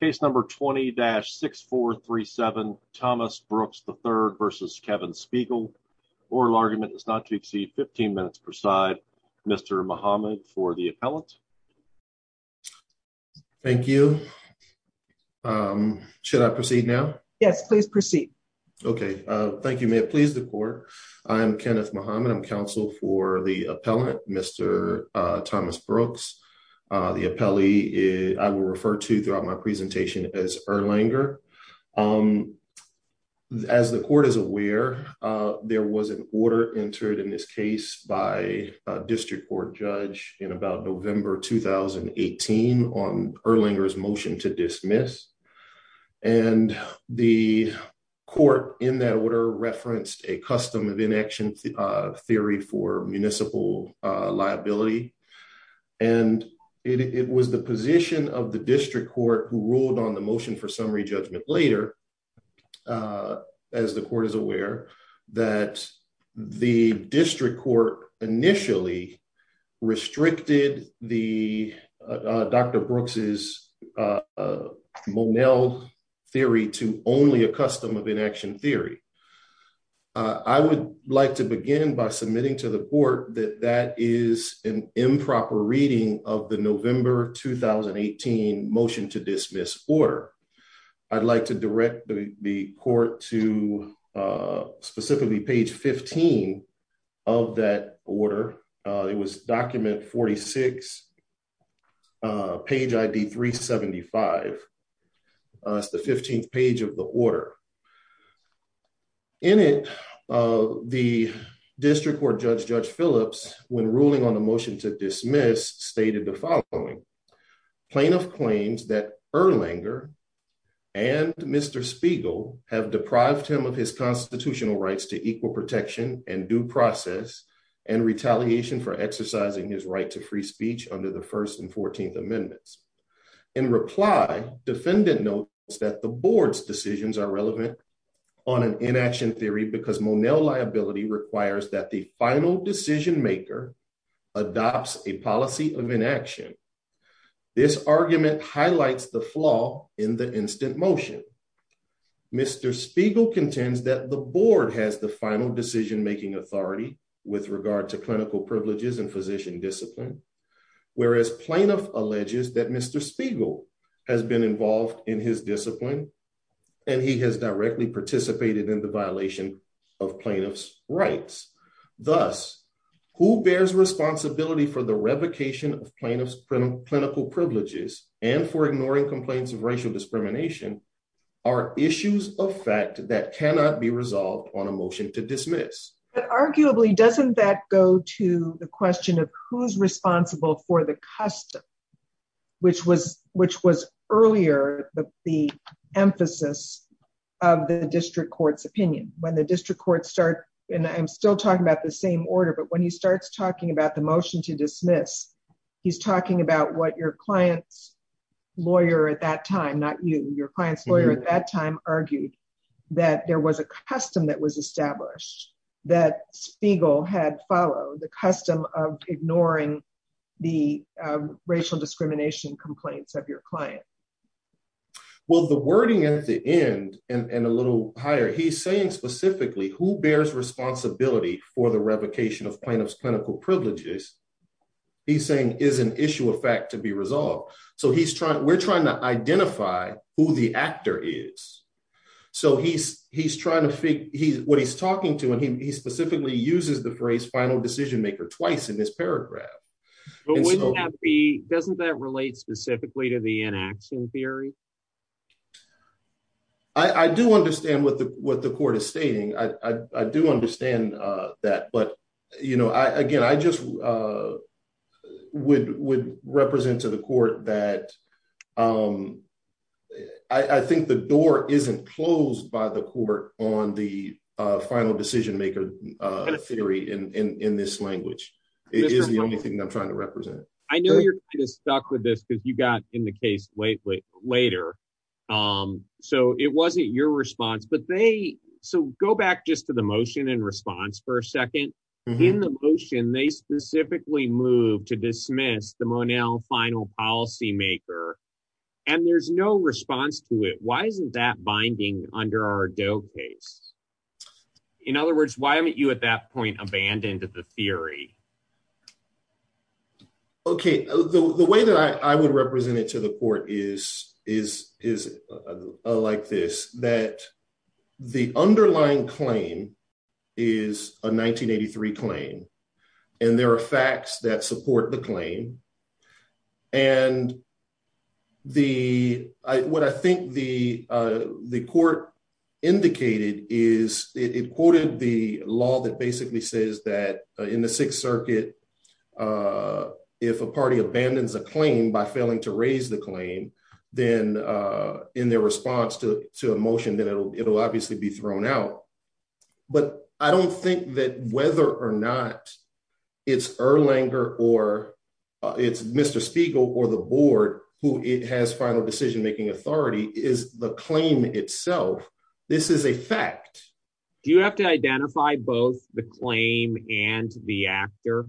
Oral argument is not to exceed 15 minutes per side. Mr. Mohamed for the appellant. Thank you. Should I proceed now? Yes, please proceed. Okay. Thank you. May it please the court. I'm Kenneth Mohamed. I'm counsel for the appellant, Mr. Thomas Brooks. The appellee I will refer to throughout my presentation as Erlanger. As the court is aware, there was an order entered in this case by a district court judge in about November 2018 on Erlanger's motion to dismiss. And the court in that order referenced a custom of inaction theory for the position of the district court who ruled on the motion for summary judgment later. As the court is aware, that the district court initially restricted the Dr. Brooks's Monell theory to only a custom of inaction theory. I would like to begin by submitting to the 2018 motion to dismiss order. I'd like to direct the court to specifically page 15 of that order. It was document 46 page ID 375. It's the 15th page of the order. In it, the plaintiff claims that Erlanger and Mr. Spiegel have deprived him of his constitutional rights to equal protection and due process and retaliation for exercising his right to free speech under the first and 14th amendments. In reply, defendant notes that the board's decisions are relevant on an inaction theory because Monell liability requires that the final decision maker adopts a this argument highlights the flaw in the instant motion. Mr. Spiegel contends that the board has the final decision making authority with regard to clinical privileges and physician discipline, whereas plaintiff alleges that Mr. Spiegel has been involved in his discipline and he has directly participated in the violation of plaintiff's rights. Thus, who bears responsibility for the revocation of plaintiff's clinical privileges and for ignoring complaints of racial discrimination are issues of fact that cannot be resolved on a motion to dismiss. But arguably, doesn't that go to the question of who's responsible for the custom, which was earlier the emphasis of the district court's opinion. When the district court start, and I'm still talking about the same order, but when he starts talking about the motion to dismiss, he's talking about what your client's lawyer at that time, not you, your client's lawyer at that time argued that there was a custom that was established that Spiegel had followed the custom of ignoring the racial discrimination complaints of your client. Well, the wording at the end and for the revocation of plaintiff's clinical privileges, he's saying is an issue of fact to be resolved. So we're trying to identify who the actor is. So he's trying to figure what he's talking to and he specifically uses the phrase final decision maker twice in this paragraph. But wouldn't that be, doesn't that relate specifically to the inaction theory? I do understand what the what the court is stating. I do understand that. But, you know, I again, I just would would represent to the court that I think the door isn't closed by the court on the final decision maker theory in this language. It is the only thing I'm trying to represent. I know you're stuck with this because you got in the case lately later. So it wasn't your response. But they so go back just to the motion and response for a second. In the motion, they specifically move to dismiss the final policy maker. And there's no response to it. Why isn't that binding under our DOE case? In other words, why haven't you at that point abandoned the theory? OK, the way that I would represent it to the court is is is like this, that the underlying claim is a 1983 claim and there are facts that support the claim. And the what I think the the court indicated is it quoted the law that basically says that in the Sixth Circuit, if a party abandons a claim by failing to raise the claim, then in their response to a motion, then it'll obviously be thrown out. But I don't think that whether or not it's Erlanger or it's final decision making authority is the claim itself. This is a fact. Do you have to identify both the claim and the actor?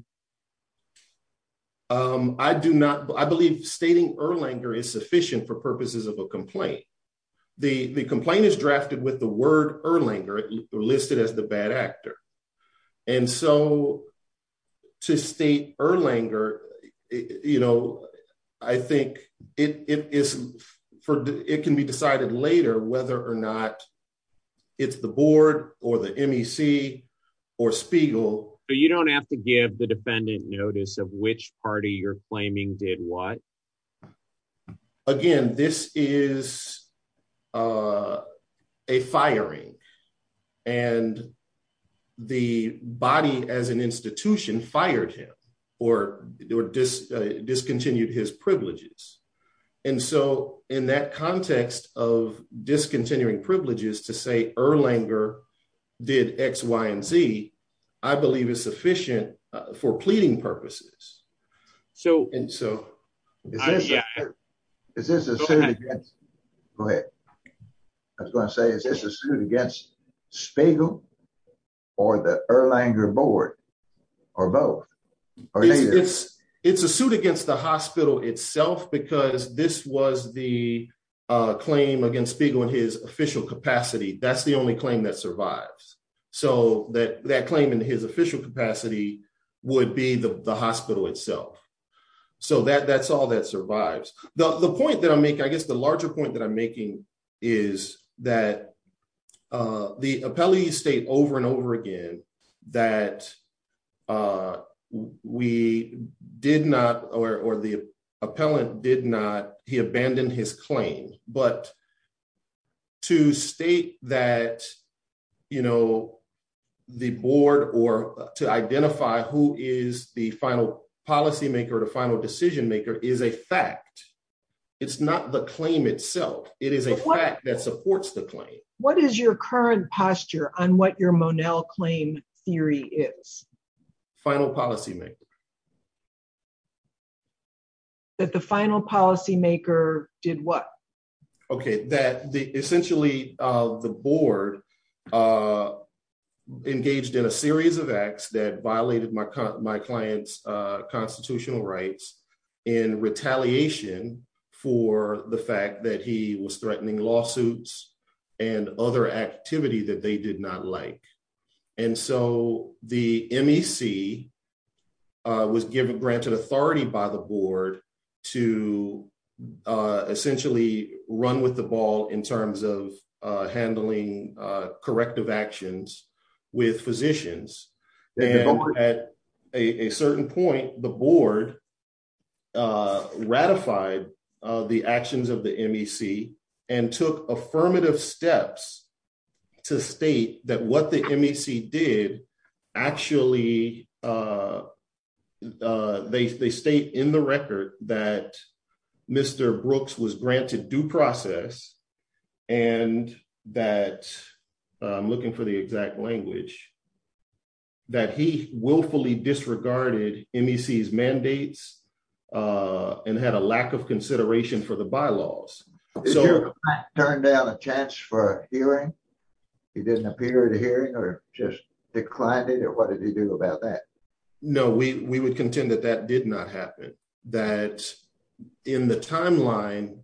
I do not. I believe stating Erlanger is sufficient for purposes of a complaint. The complaint is drafted with the word Erlanger listed as the bad actor. And so to state Erlanger, you know, I think it is for it can be decided later whether or not it's the board or the MEC or Spiegel. But you don't have to give the defendant notice of which party you're claiming did what? Again, this is a firing and the body as an institution fired him or discontinued his privileges. And so in that context of discontinuing privileges to say Erlanger did X, Y and Z, I believe is sufficient for pleading purposes. So and so is this is this a suit against Spiegel or the Erlanger board or both? It's a suit against the hospital itself because this was the claim against Spiegel in his official capacity. That's the only claim that survives. So that that claim in his official capacity would be the hospital itself. So that that's all that survives. The point that I make, I guess the larger point that I'm making is that the appellees state over and over again that we did not or the appellant did not. He abandoned his claim. But to state that, you know, the board or to identify who is the final policymaker or the final decision maker is a fact. It's not the claim itself. It is a fact that supports the claim. What is your current posture on what your Monell claim theory is? Final policymaker. That the final policymaker did what? OK, that essentially the board engaged in a series of acts that violated my my client's constitutional rights in retaliation for the fact that he was threatening lawsuits and other activity that they did not like. And so the MEC was given granted authority by the board to essentially run with the ball in terms of handling corrective actions with physicians. At a certain point, the board ratified the actions of the MEC and took affirmative steps to state that what the MEC did actually, they state in the record that Mr. Brooks was granted due process and that I'm looking for the exact language. That he willfully disregarded MEC's He didn't appear at a hearing or just declined it or what did he do about that? No, we would contend that that did not happen, that in the timeline,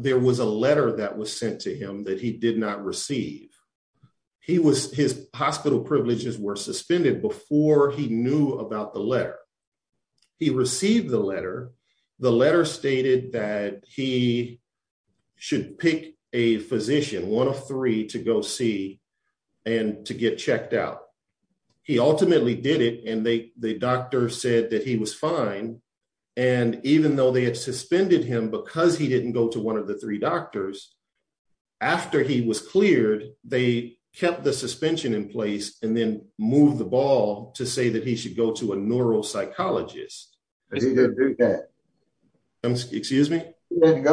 there was a letter that was sent to him that he did not receive. He was his hospital privileges were suspended before he knew about the letter. He received the letter. The letter stated that he should pick a physician, one of three to go see and to get checked out. He ultimately did it and the doctor said that he was fine. And even though they had suspended him because he didn't go to one of the three doctors. After he was cleared, they kept the suspension in place and then move the ball to say that he go to a neuropsychologist. He didn't go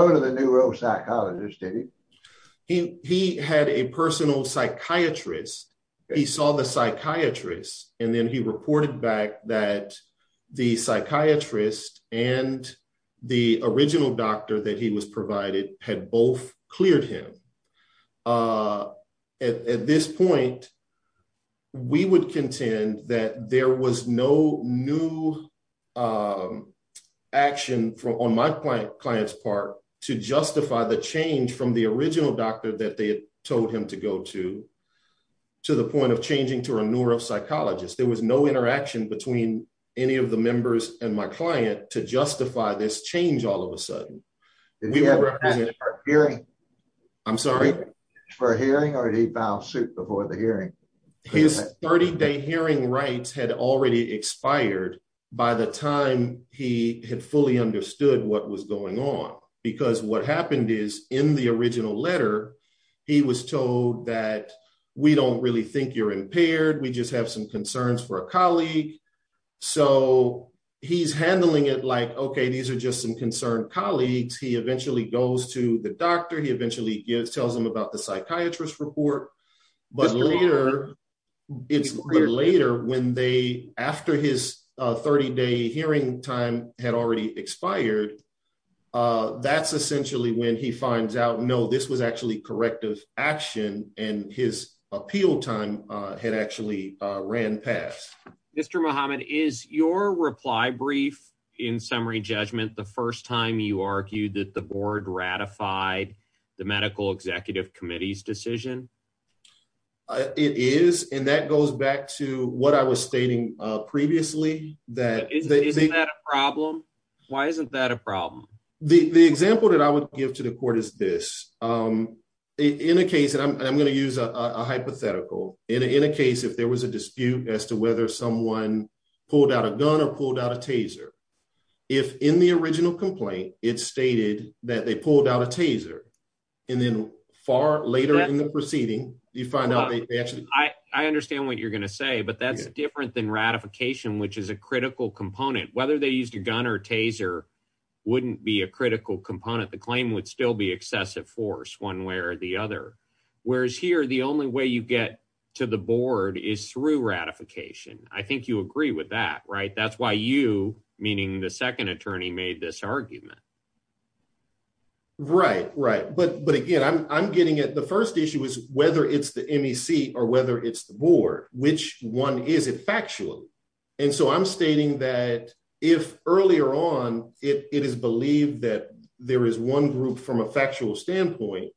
to the neuropsychologist, did he? He had a personal psychiatrist. He saw the psychiatrist and then he reported back that the psychiatrist and the original doctor that he was provided had both cleared him. At this point, we would contend that there was no new action on my client's part to justify the change from the original doctor that they told him to go to, to the point of changing to a neuropsychologist. There was no interaction between any of the members and my client to justify this change all of a sudden. Did he have a hearing? I'm sorry? For a hearing or did he file suit before the hearing? His 30 day hearing rights had already expired by the time he had fully understood what was going on because what happened is in the original letter, he was told that we don't really think you're impaired. We just have some concerns for a colleague. So he's handling it like, okay, these are just some concerned colleagues. He eventually goes to the doctor. He eventually tells them about the psychiatrist report, but later when they, after his 30 day hearing time had already expired, that's essentially when he finds out, no, this was actually corrective action and his appeal time had actually ran past. Mr. Muhammad, is your reply brief in summary judgment, the first time you argued that the board ratified the medical executive committee's decision? It is. And that goes back to what I was stating previously. Isn't that a problem? Why isn't that a problem? The example that I would give to the court is this, in a case, and I'm going to use a hypothetical, in a case, if there was a dispute as to whether someone pulled out a gun or pulled out a taser, if in the original complaint, it's stated that they pulled out a taser and then far later in the proceeding, you find out I understand what you're going to say, but that's different than ratification, which is a critical component, whether they used a gun or taser, wouldn't be a critical component. The claim would still be excessive force one way or the other. Whereas here, the only way you get to the board is through ratification. I think you agree with that, right? That's why you, meaning the second attorney, made this argument. Right, right. But again, I'm getting at the first issue is whether it's the MEC or whether it's the board, which one is it factually. And so I'm stating that if earlier on it is believed that there is one group from a factual standpoint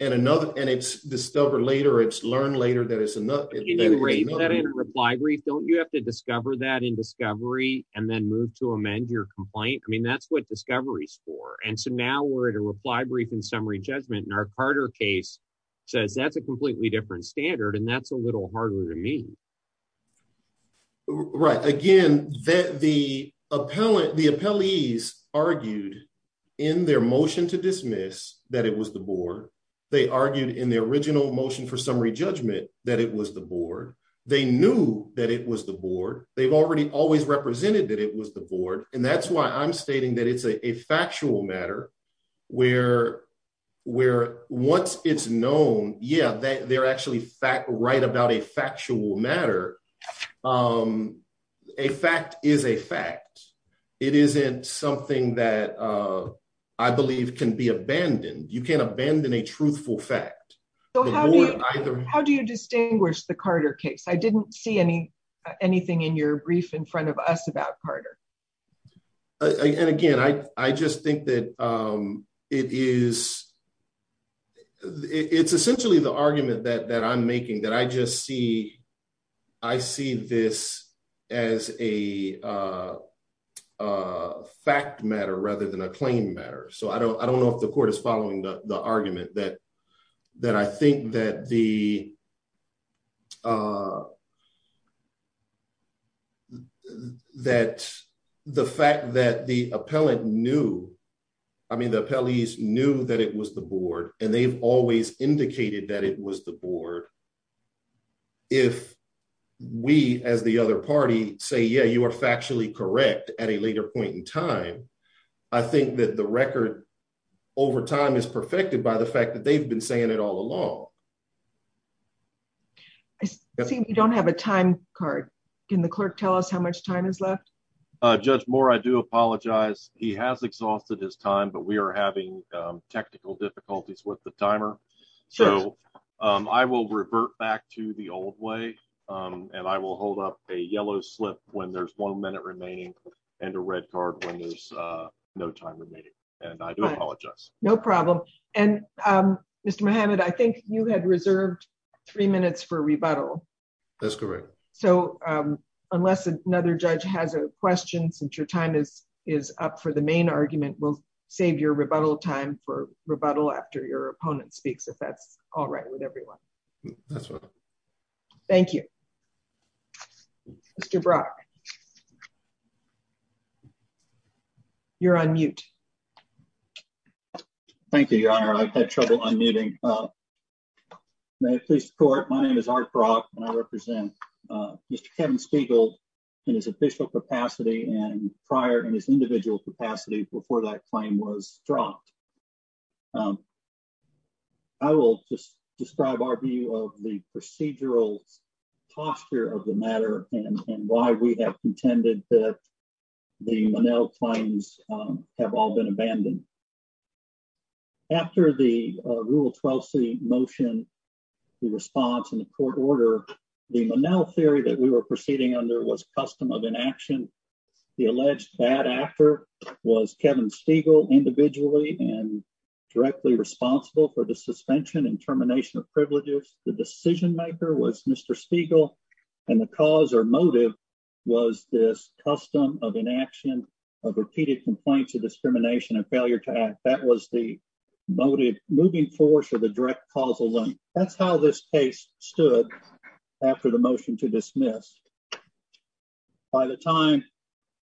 and another, and it's discovered later, it's learned later that it's enough. Can you rate that in a reply brief? Don't you have to discover that in discovery and then move to amend your complaint? I mean, that's what discovery is for. And so now we're at a reply brief and summary judgment and our Carter case says that's a completely different standard and that's a little harder to meet. Right. Again, that the appellate, the appellees argued in their motion to dismiss that it was the board. They argued in their original motion for summary judgment that it was the board. They knew that it was the board. They've already always represented that it was the board. And that's why I'm stating that it's a factual matter where once it's known, yeah, they're actually right about a factual matter. A fact is a fact. It isn't something that I believe can be abandoned. You can't abandon a truthful fact. So how do you distinguish the Carter case? I didn't see any anything in your brief in front of us about Carter. And again, I just think that it is, it's essentially the argument that I'm making that I just see, I see this as a a fact matter rather than a claim matter. So I don't, I don't know if the court is following the argument that, that I think that the, that the fact that the appellate knew, I mean, the appellees knew that it was the board and they've always indicated that it was the board. If we, as the other party say, yeah, you are factually correct at a later point in time. I think that the record over time is perfected by the fact that they've been saying it all along. I see we don't have a time card. Can the clerk tell us how much time is left? Judge Moore, I do apologize. He has exhausted his time, but we are having technical difficulties with the timer. So I will revert back to the old way and I will hold up a yellow slip when there's one minute remaining and a red card when there's no time remaining. And I do apologize. No problem. And Mr. Muhammad, I think you had reserved three minutes for rebuttal. That's correct. So unless another judge has a question, since your is up for the main argument, we'll save your rebuttal time for rebuttal after your opponent speaks if that's all right with everyone. That's right. Thank you, Mr. Brock. You're on mute. Thank you, your honor. I've had trouble unmuting. May I please report? My name is Art Brock and I represent Mr. Kevin Spiegel in his official capacity and prior in his individual capacity before that claim was dropped. I will just describe our view of the procedural posture of the matter and why we have contended that the Monell claims have all been abandoned. After the Rule 12C motion, the response in the alleged bad actor was Kevin Spiegel individually and directly responsible for the suspension and termination of privileges. The decision maker was Mr. Spiegel and the cause or motive was this custom of inaction of repeated complaints of discrimination and failure to act. That was the motive, moving force or the direct causal link. That's how this case stood after the motion to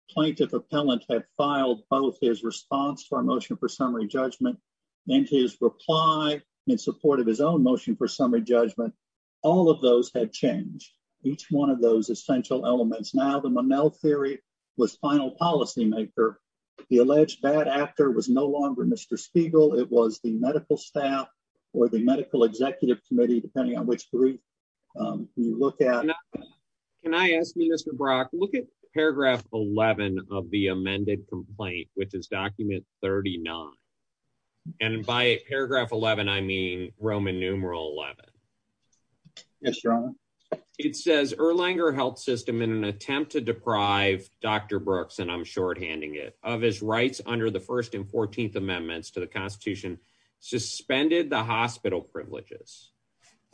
plaintiff appellant had filed both his response to our motion for summary judgment and his reply in support of his own motion for summary judgment. All of those had changed. Each one of those essential elements. Now the Monell theory was final policymaker. The alleged bad actor was no longer Mr. Spiegel. It was the medical staff or the medical executive committee, depending on which group you look at. Can I ask you, Mr. Brock, look at paragraph 11 of the amended complaint, which is document 39. And by paragraph 11, I mean Roman numeral 11. Yes, your honor. It says Erlanger Health System in an attempt to deprive Dr. Brooks, and I'm shorthanding it, of his rights under the first and 14th amendments to the Constitution suspended the hospital privileges.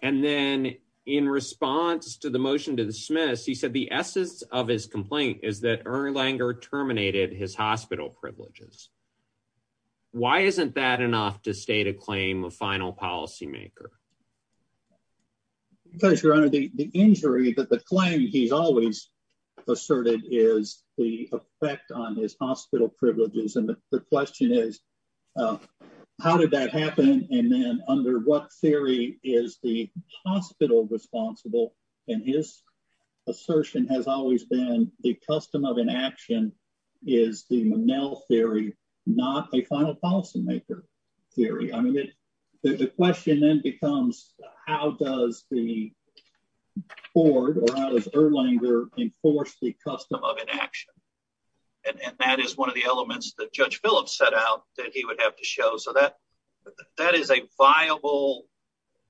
And then in response to the motion to dismiss, he said the essence of his complaint is that Erlanger terminated his hospital privileges. Why isn't that enough to state a claim of final policymaker? Because your honor, the injury that the claim he's always asserted is the effect on his hospital privileges. And the question is, how did that happen? And then under what theory is the hospital responsible? And his assertion has always been the custom of inaction is the Monell theory, not a final policymaker theory. I mean, the question then becomes, how does the judge Phillips set out that he would have to show so that that is a viable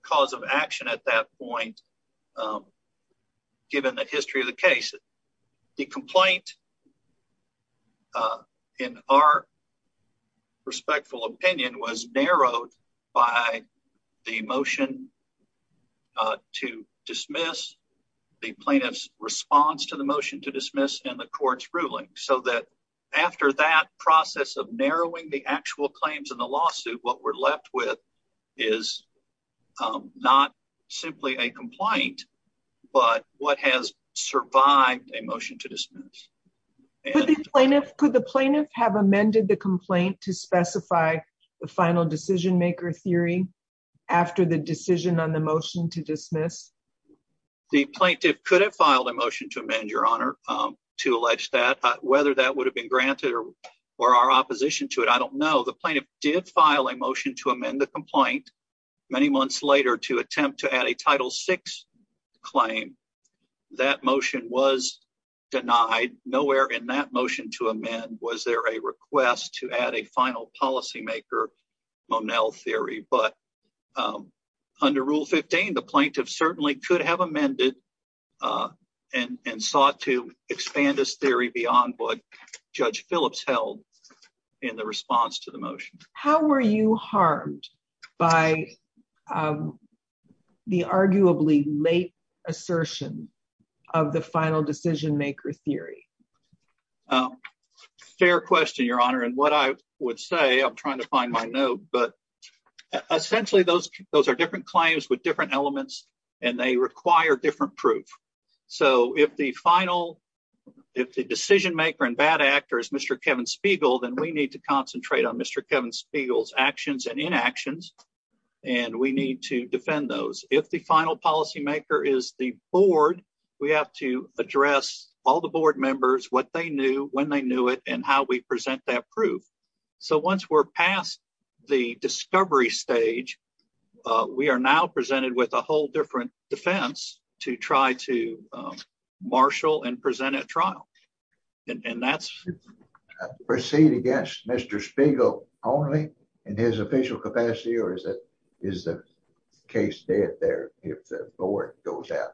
cause of action at that point? Given the history of the case, the complaint in our respectful opinion was narrowed by the motion to dismiss the plaintiff's response to the motion to dismiss in the court's ruling, so that after that process of narrowing the actual claims in the lawsuit, what we're left with is not simply a complaint, but what has survived a motion to dismiss. Could the plaintiff have amended the complaint to specify the final decision maker theory after the decision on the motion to dismiss? The plaintiff could have filed a motion to amend, to allege that. Whether that would have been granted or our opposition to it, I don't know. The plaintiff did file a motion to amend the complaint many months later to attempt to add a title six claim. That motion was denied. Nowhere in that motion to amend was there a request to add a final policymaker Monell theory. But under rule 15, the plaintiff certainly could have amended and sought to expand this theory beyond what Judge Phillips held in the response to the motion. How were you harmed by the arguably late assertion of the final decision maker theory? Fair question, Your Honor. And what I would say, I'm trying to find my note, but so if the final, if the decision maker and bad actor is Mr. Kevin Spiegel, then we need to concentrate on Mr. Kevin Spiegel's actions and inactions, and we need to defend those. If the final policymaker is the board, we have to address all the board members, what they knew, when they knew it, and how we present that proof. So once we're past the discovery stage, we are now presented with a whole different defense to try to marshal and present a trial. And that's proceed against Mr. Spiegel only in his official capacity, or is that is the case dead there if the board goes out?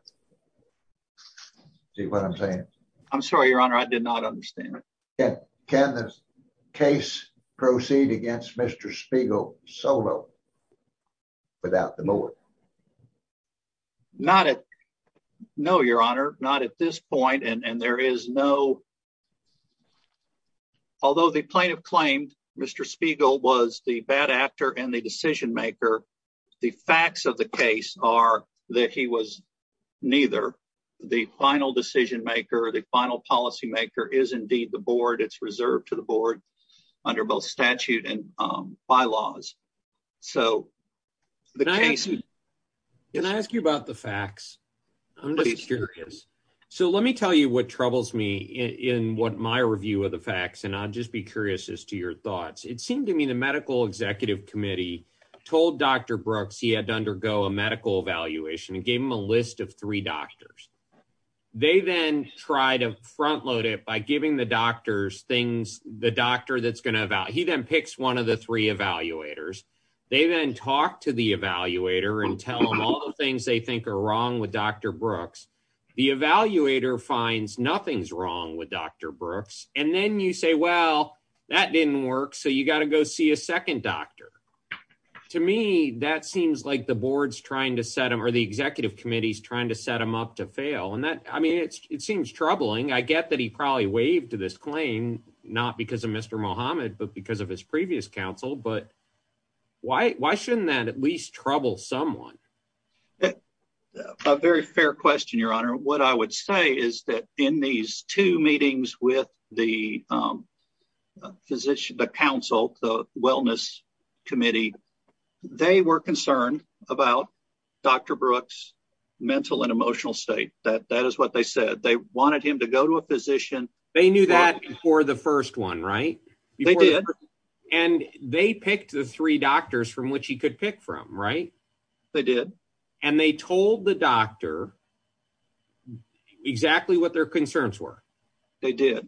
See what I'm saying? I'm sorry, Your Honor. I did not understand. Can this case proceed against Mr. Spiegel solo without the board? No, Your Honor, not at this point. And there is no... Although the plaintiff claimed Mr. Spiegel was the bad actor and the decision maker, the facts of the case are that he was neither. The final decision maker, the final policymaker is indeed the board. It's reserved to the board under both statute and bylaws. So the case... Can I ask you about the facts? I'm just curious. So let me tell you what troubles me in what my review of the facts, and I'll just be curious as to your thoughts. It seemed to me the medical executive committee told Dr. Brooks he had to undergo a medical evaluation and gave him a list of three doctors. They then tried to front load it by giving the doctors things, the doctor that's evaluators. They then talked to the evaluator and tell him all the things they think are wrong with Dr. Brooks. The evaluator finds nothing's wrong with Dr. Brooks. And then you say, well, that didn't work. So you got to go see a second doctor. To me, that seems like the board's trying to set him or the executive committee's trying to set him up to fail. And that, I mean, it seems troubling. I get that he probably waived to this claim, not because of Mr. Muhammad, but because his previous counsel. But why shouldn't that at least trouble someone? A very fair question, Your Honor. What I would say is that in these two meetings with the physician, the counsel, the wellness committee, they were concerned about Dr. Brooks' mental and emotional state. That is what they said. They wanted him to go to a physician. They knew that before the first one, right? They did. And they picked the three doctors from which he could pick from, right? They did. And they told the doctor exactly what their concerns were. They did.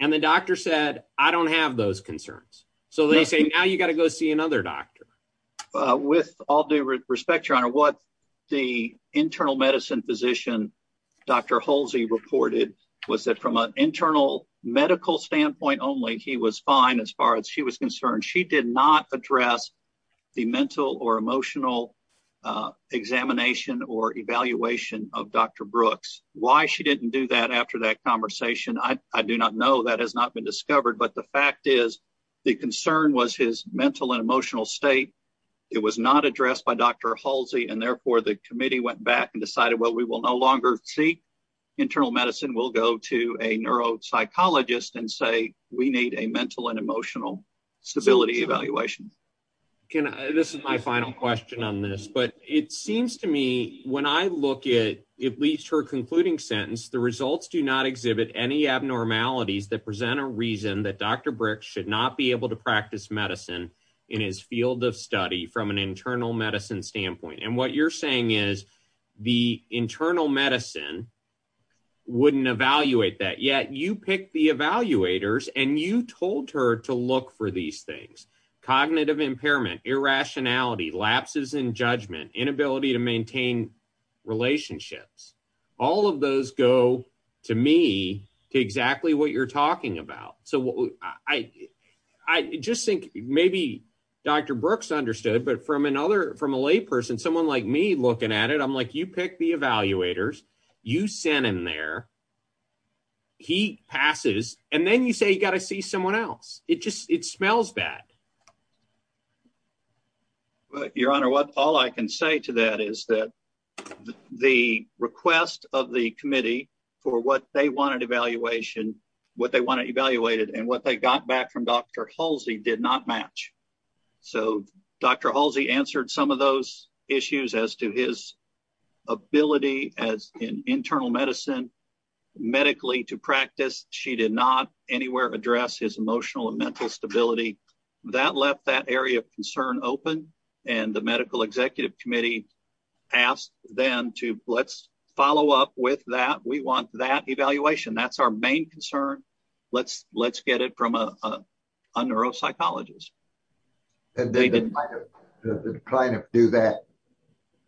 And the doctor said, I don't have those concerns. So they say, now you got to go see another doctor. With all due respect, Your Honor, what the internal medicine physician, Dr. Halsey, reported was that from an internal medical standpoint only, he was fine as far as she was concerned. She did not address the mental or emotional examination or evaluation of Dr. Brooks. Why she didn't do that after that conversation, I do not know. That has not been discovered. But the fact is, the concern was his mental and emotional state. It was not addressed by Dr. Halsey. And therefore, the committee went back and decided, well, we will no longer seek internal medicine. We'll go to a neuropsychologist and say, we need a mental and emotional stability evaluation. This is my final question on this. But it seems to me, when I look at at least her concluding sentence, the results do not exhibit any abnormalities that present a reason that Dr. Brooks should not be able to practice medicine in his field of study from an internal medicine standpoint. And what you're saying is, the internal medicine wouldn't evaluate that. Yet, you picked the evaluators and you told her to look for these things. Cognitive impairment, irrationality, lapses in judgment, inability to maintain relationships. All of those go, to me, to exactly what you're talking about. So, I just think maybe Dr. Brooks understood. But from a layperson, someone like me, looking at it, I'm like, you picked the evaluators. You sent him there. He passes. And then you say, you got to see someone else. It smells bad. Your Honor, all I can say to that is that the request of the committee for what they wanted evaluated and what they got back from Dr. Halsey did not match. So, Dr. Halsey answered some of those issues as to his ability in internal medicine medically to practice. She did not anywhere address his emotional and mental stability. That left that area of concern open. And the medical executive committee asked them to, let's follow up with that. We want that evaluation. That's our main concern. Let's get it from a neuropsychologist.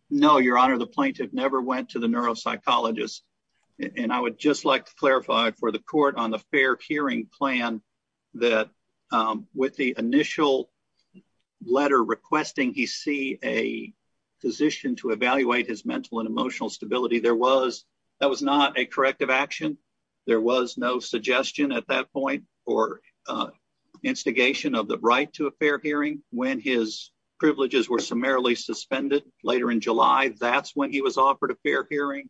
No, Your Honor, the plaintiff never went to the neuropsychologist. And I would just like to clarify for the court on the fair hearing plan that with the initial letter requesting he see a physician to evaluate his mental and emotional stability, that was not a corrective action. There was no suggestion at that point for instigation of the right to a fair hearing. When his privileges were summarily suspended later in July, that's when he was offered a fair hearing.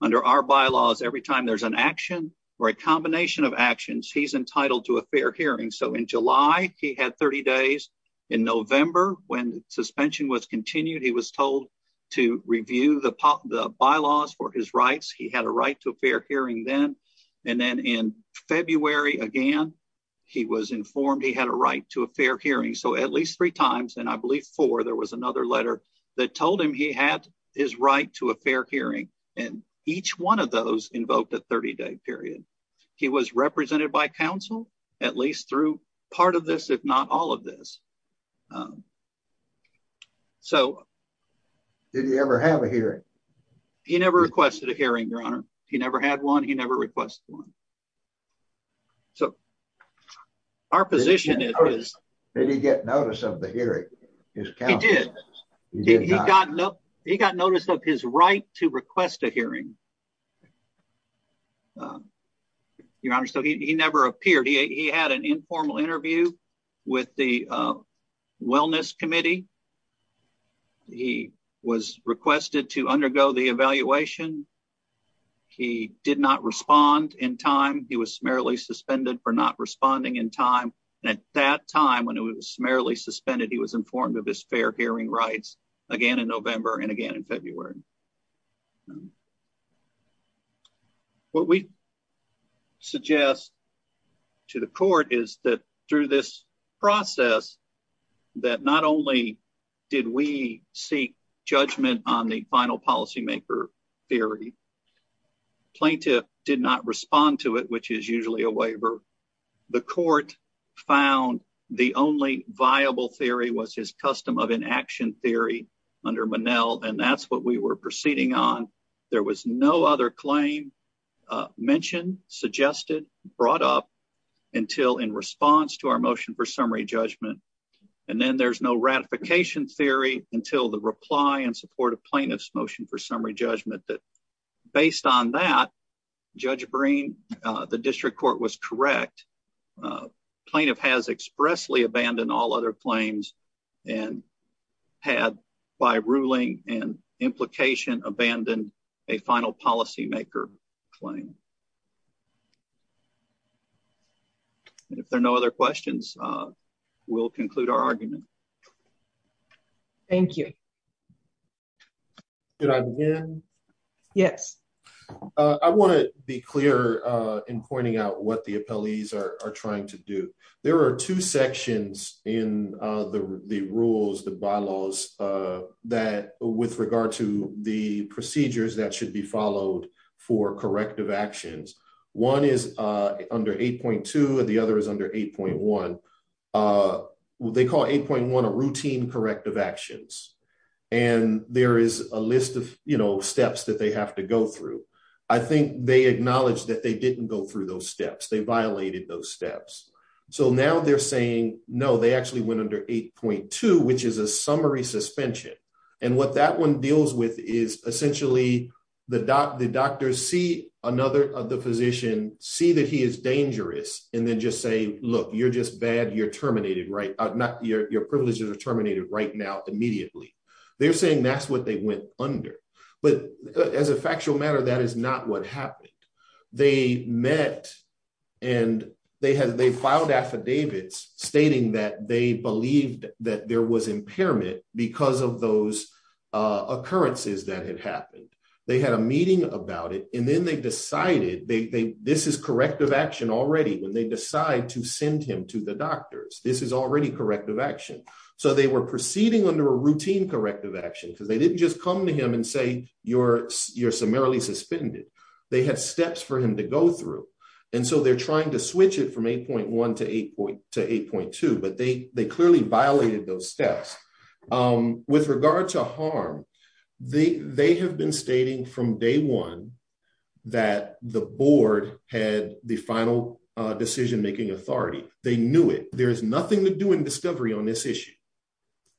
Under our bylaws, every time there's an action or a combination of actions, he's entitled to a fair hearing. So, in July, he had 30 days. In November, when suspension was continued, he was told to review the bylaws for his rights. He had a right to a fair hearing then. And then in February, again, he was informed he had a right to a fair hearing. So, at least three times, and I believe four, there was another letter that told him he had his right to a fair hearing. And each one of those invoked a 30-day period. He was represented by counsel, at least through part of this, if not all of this. So... Did he ever have a hearing? He never requested a hearing, Your Honor. He never had one. He never requested one. So, our position is... Did he get notice of the hearing? He did. He got notice of his right to request a hearing, Your Honor. So, he never appeared. He had an informal interview with the wellness committee. He was requested to undergo the evaluation. He did not respond in time. He was summarily suspended for not responding in time. And at that time, when he was summarily suspended, he was informed of his fair hearing rights again in November and again in February. What we suggest to the court is that, through this process, that not only did we seek judgment on the final policymaker theory, plaintiff did not respond to it, which is usually a waiver. The court found the only viable theory was his custom of inaction theory under Monell, and that's what we were proceeding on. There was no other claim mentioned, suggested, brought up until in response to our motion for summary judgment. And then there's no ratification theory until the reply in support of plaintiff's motion for summary judgment that, based on that, Judge Breen, the district court was correct. Plaintiff has expressly abandoned all other claims and had, by ruling and implication, abandoned a final policymaker claim. If there are no other questions, we'll conclude our argument. Thank you. Should I begin? Yes. I want to be clear in pointing out what the appellees are trying to do. There are two sections in the rules, the bylaws, that, with regard to the procedures that should be followed for corrective actions, one is under 8.2 and the other is under 8.1. They call 8.1 a routine corrective actions, and there is a list of steps that they have to go through. I think they acknowledge that they didn't go through those steps. They violated those steps. So now they're saying, no, they actually went under 8.2, which is a summary suspension. What that one deals with is, essentially, the doctors see another of the physicians, see that he is dangerous, and then just say, look, you're just bad. Your privileges are terminated right now, immediately. They're saying that's what they went under. But, as a factual matter, that is not what happened. They met and they filed affidavits stating that they believed that there was impairment because of those occurrences that had happened. They had a meeting about it, and then they decided, this is corrective action already, when they decide to send him to the doctors. This is already corrective action. So they were proceeding under a routine corrective action, because they didn't just come to him and say, you're summarily suspended. They had steps for him to go through. And so they're trying to switch it from 8.1 to 8.2, but they clearly violated those steps. With regard to harm, they have been stating from day one that the board had the final decision-making authority. They knew it. There is nothing to do in discovery on this issue.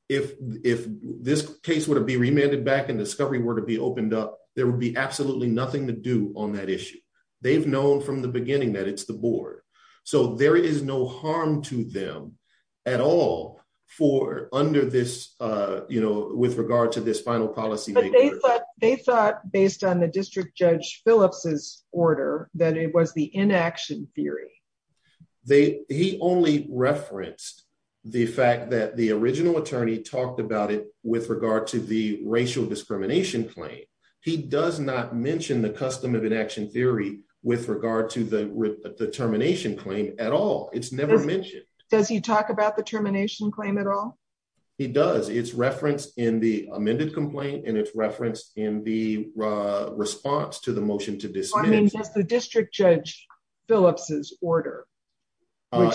If this case were to be remanded back and discovery were to be opened up, there would be absolutely nothing to do on that issue. They've known from the beginning that it's the board. So there is no harm to them at all for under this, you know, with regard to this final policy. But they thought based on the District Judge Phillips's order that it was the inaction theory. He only referenced the fact that the original attorney talked about it with regard to the racial discrimination claim. He does not mention the custom of inaction theory with regard to the termination claim at all. It's never mentioned. Does he talk about the termination claim at all? He does. It's referenced in the amended complaint, and it's referenced in the response to the motion to dismiss. I mean, does the District Judge Phillips's order?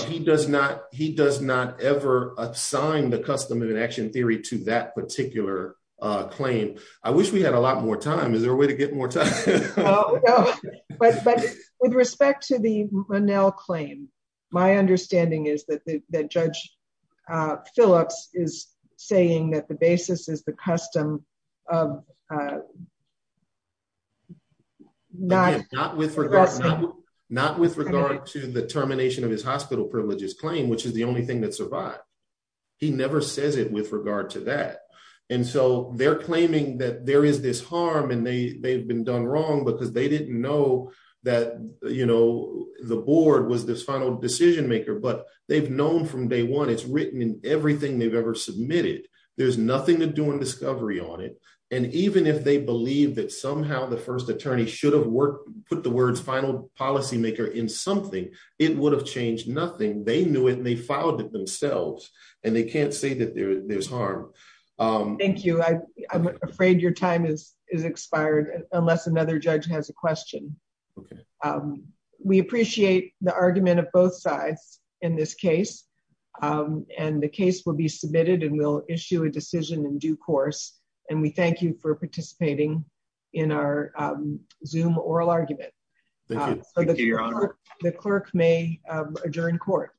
He does not ever assign the custom of inaction theory to that particular claim. I wish we had a lot more time. Is there a way to get more time? Oh, no. But with respect to the Ronell claim, my understanding is that the Judge Phillips is saying that the basis is the custom of not with regard to the termination of his hospital privileges claim, which is the only thing that survived. He never says it with regard to that. And so they're claiming that there is this harm, and they've been done wrong because they didn't know that the board was this final decision-maker. But they've known from day one, it's written in everything they've ever submitted. There's nothing to do in discovery on it. And even if they believe that somehow the first attorney should have put the words final policy maker in something, it would have changed nothing. They knew it, and they filed it themselves. And they can't say that there's harm. Thank you. I'm afraid your time is expired, unless another judge has a question. We appreciate the argument of both sides in this case. And the case will be submitted, and we'll issue a decision in due course. And we thank you for participating in our Zoom oral argument. Thank you, Your Honor. The clerk may adjourn court.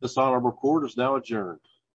The son of a court is now adjourned.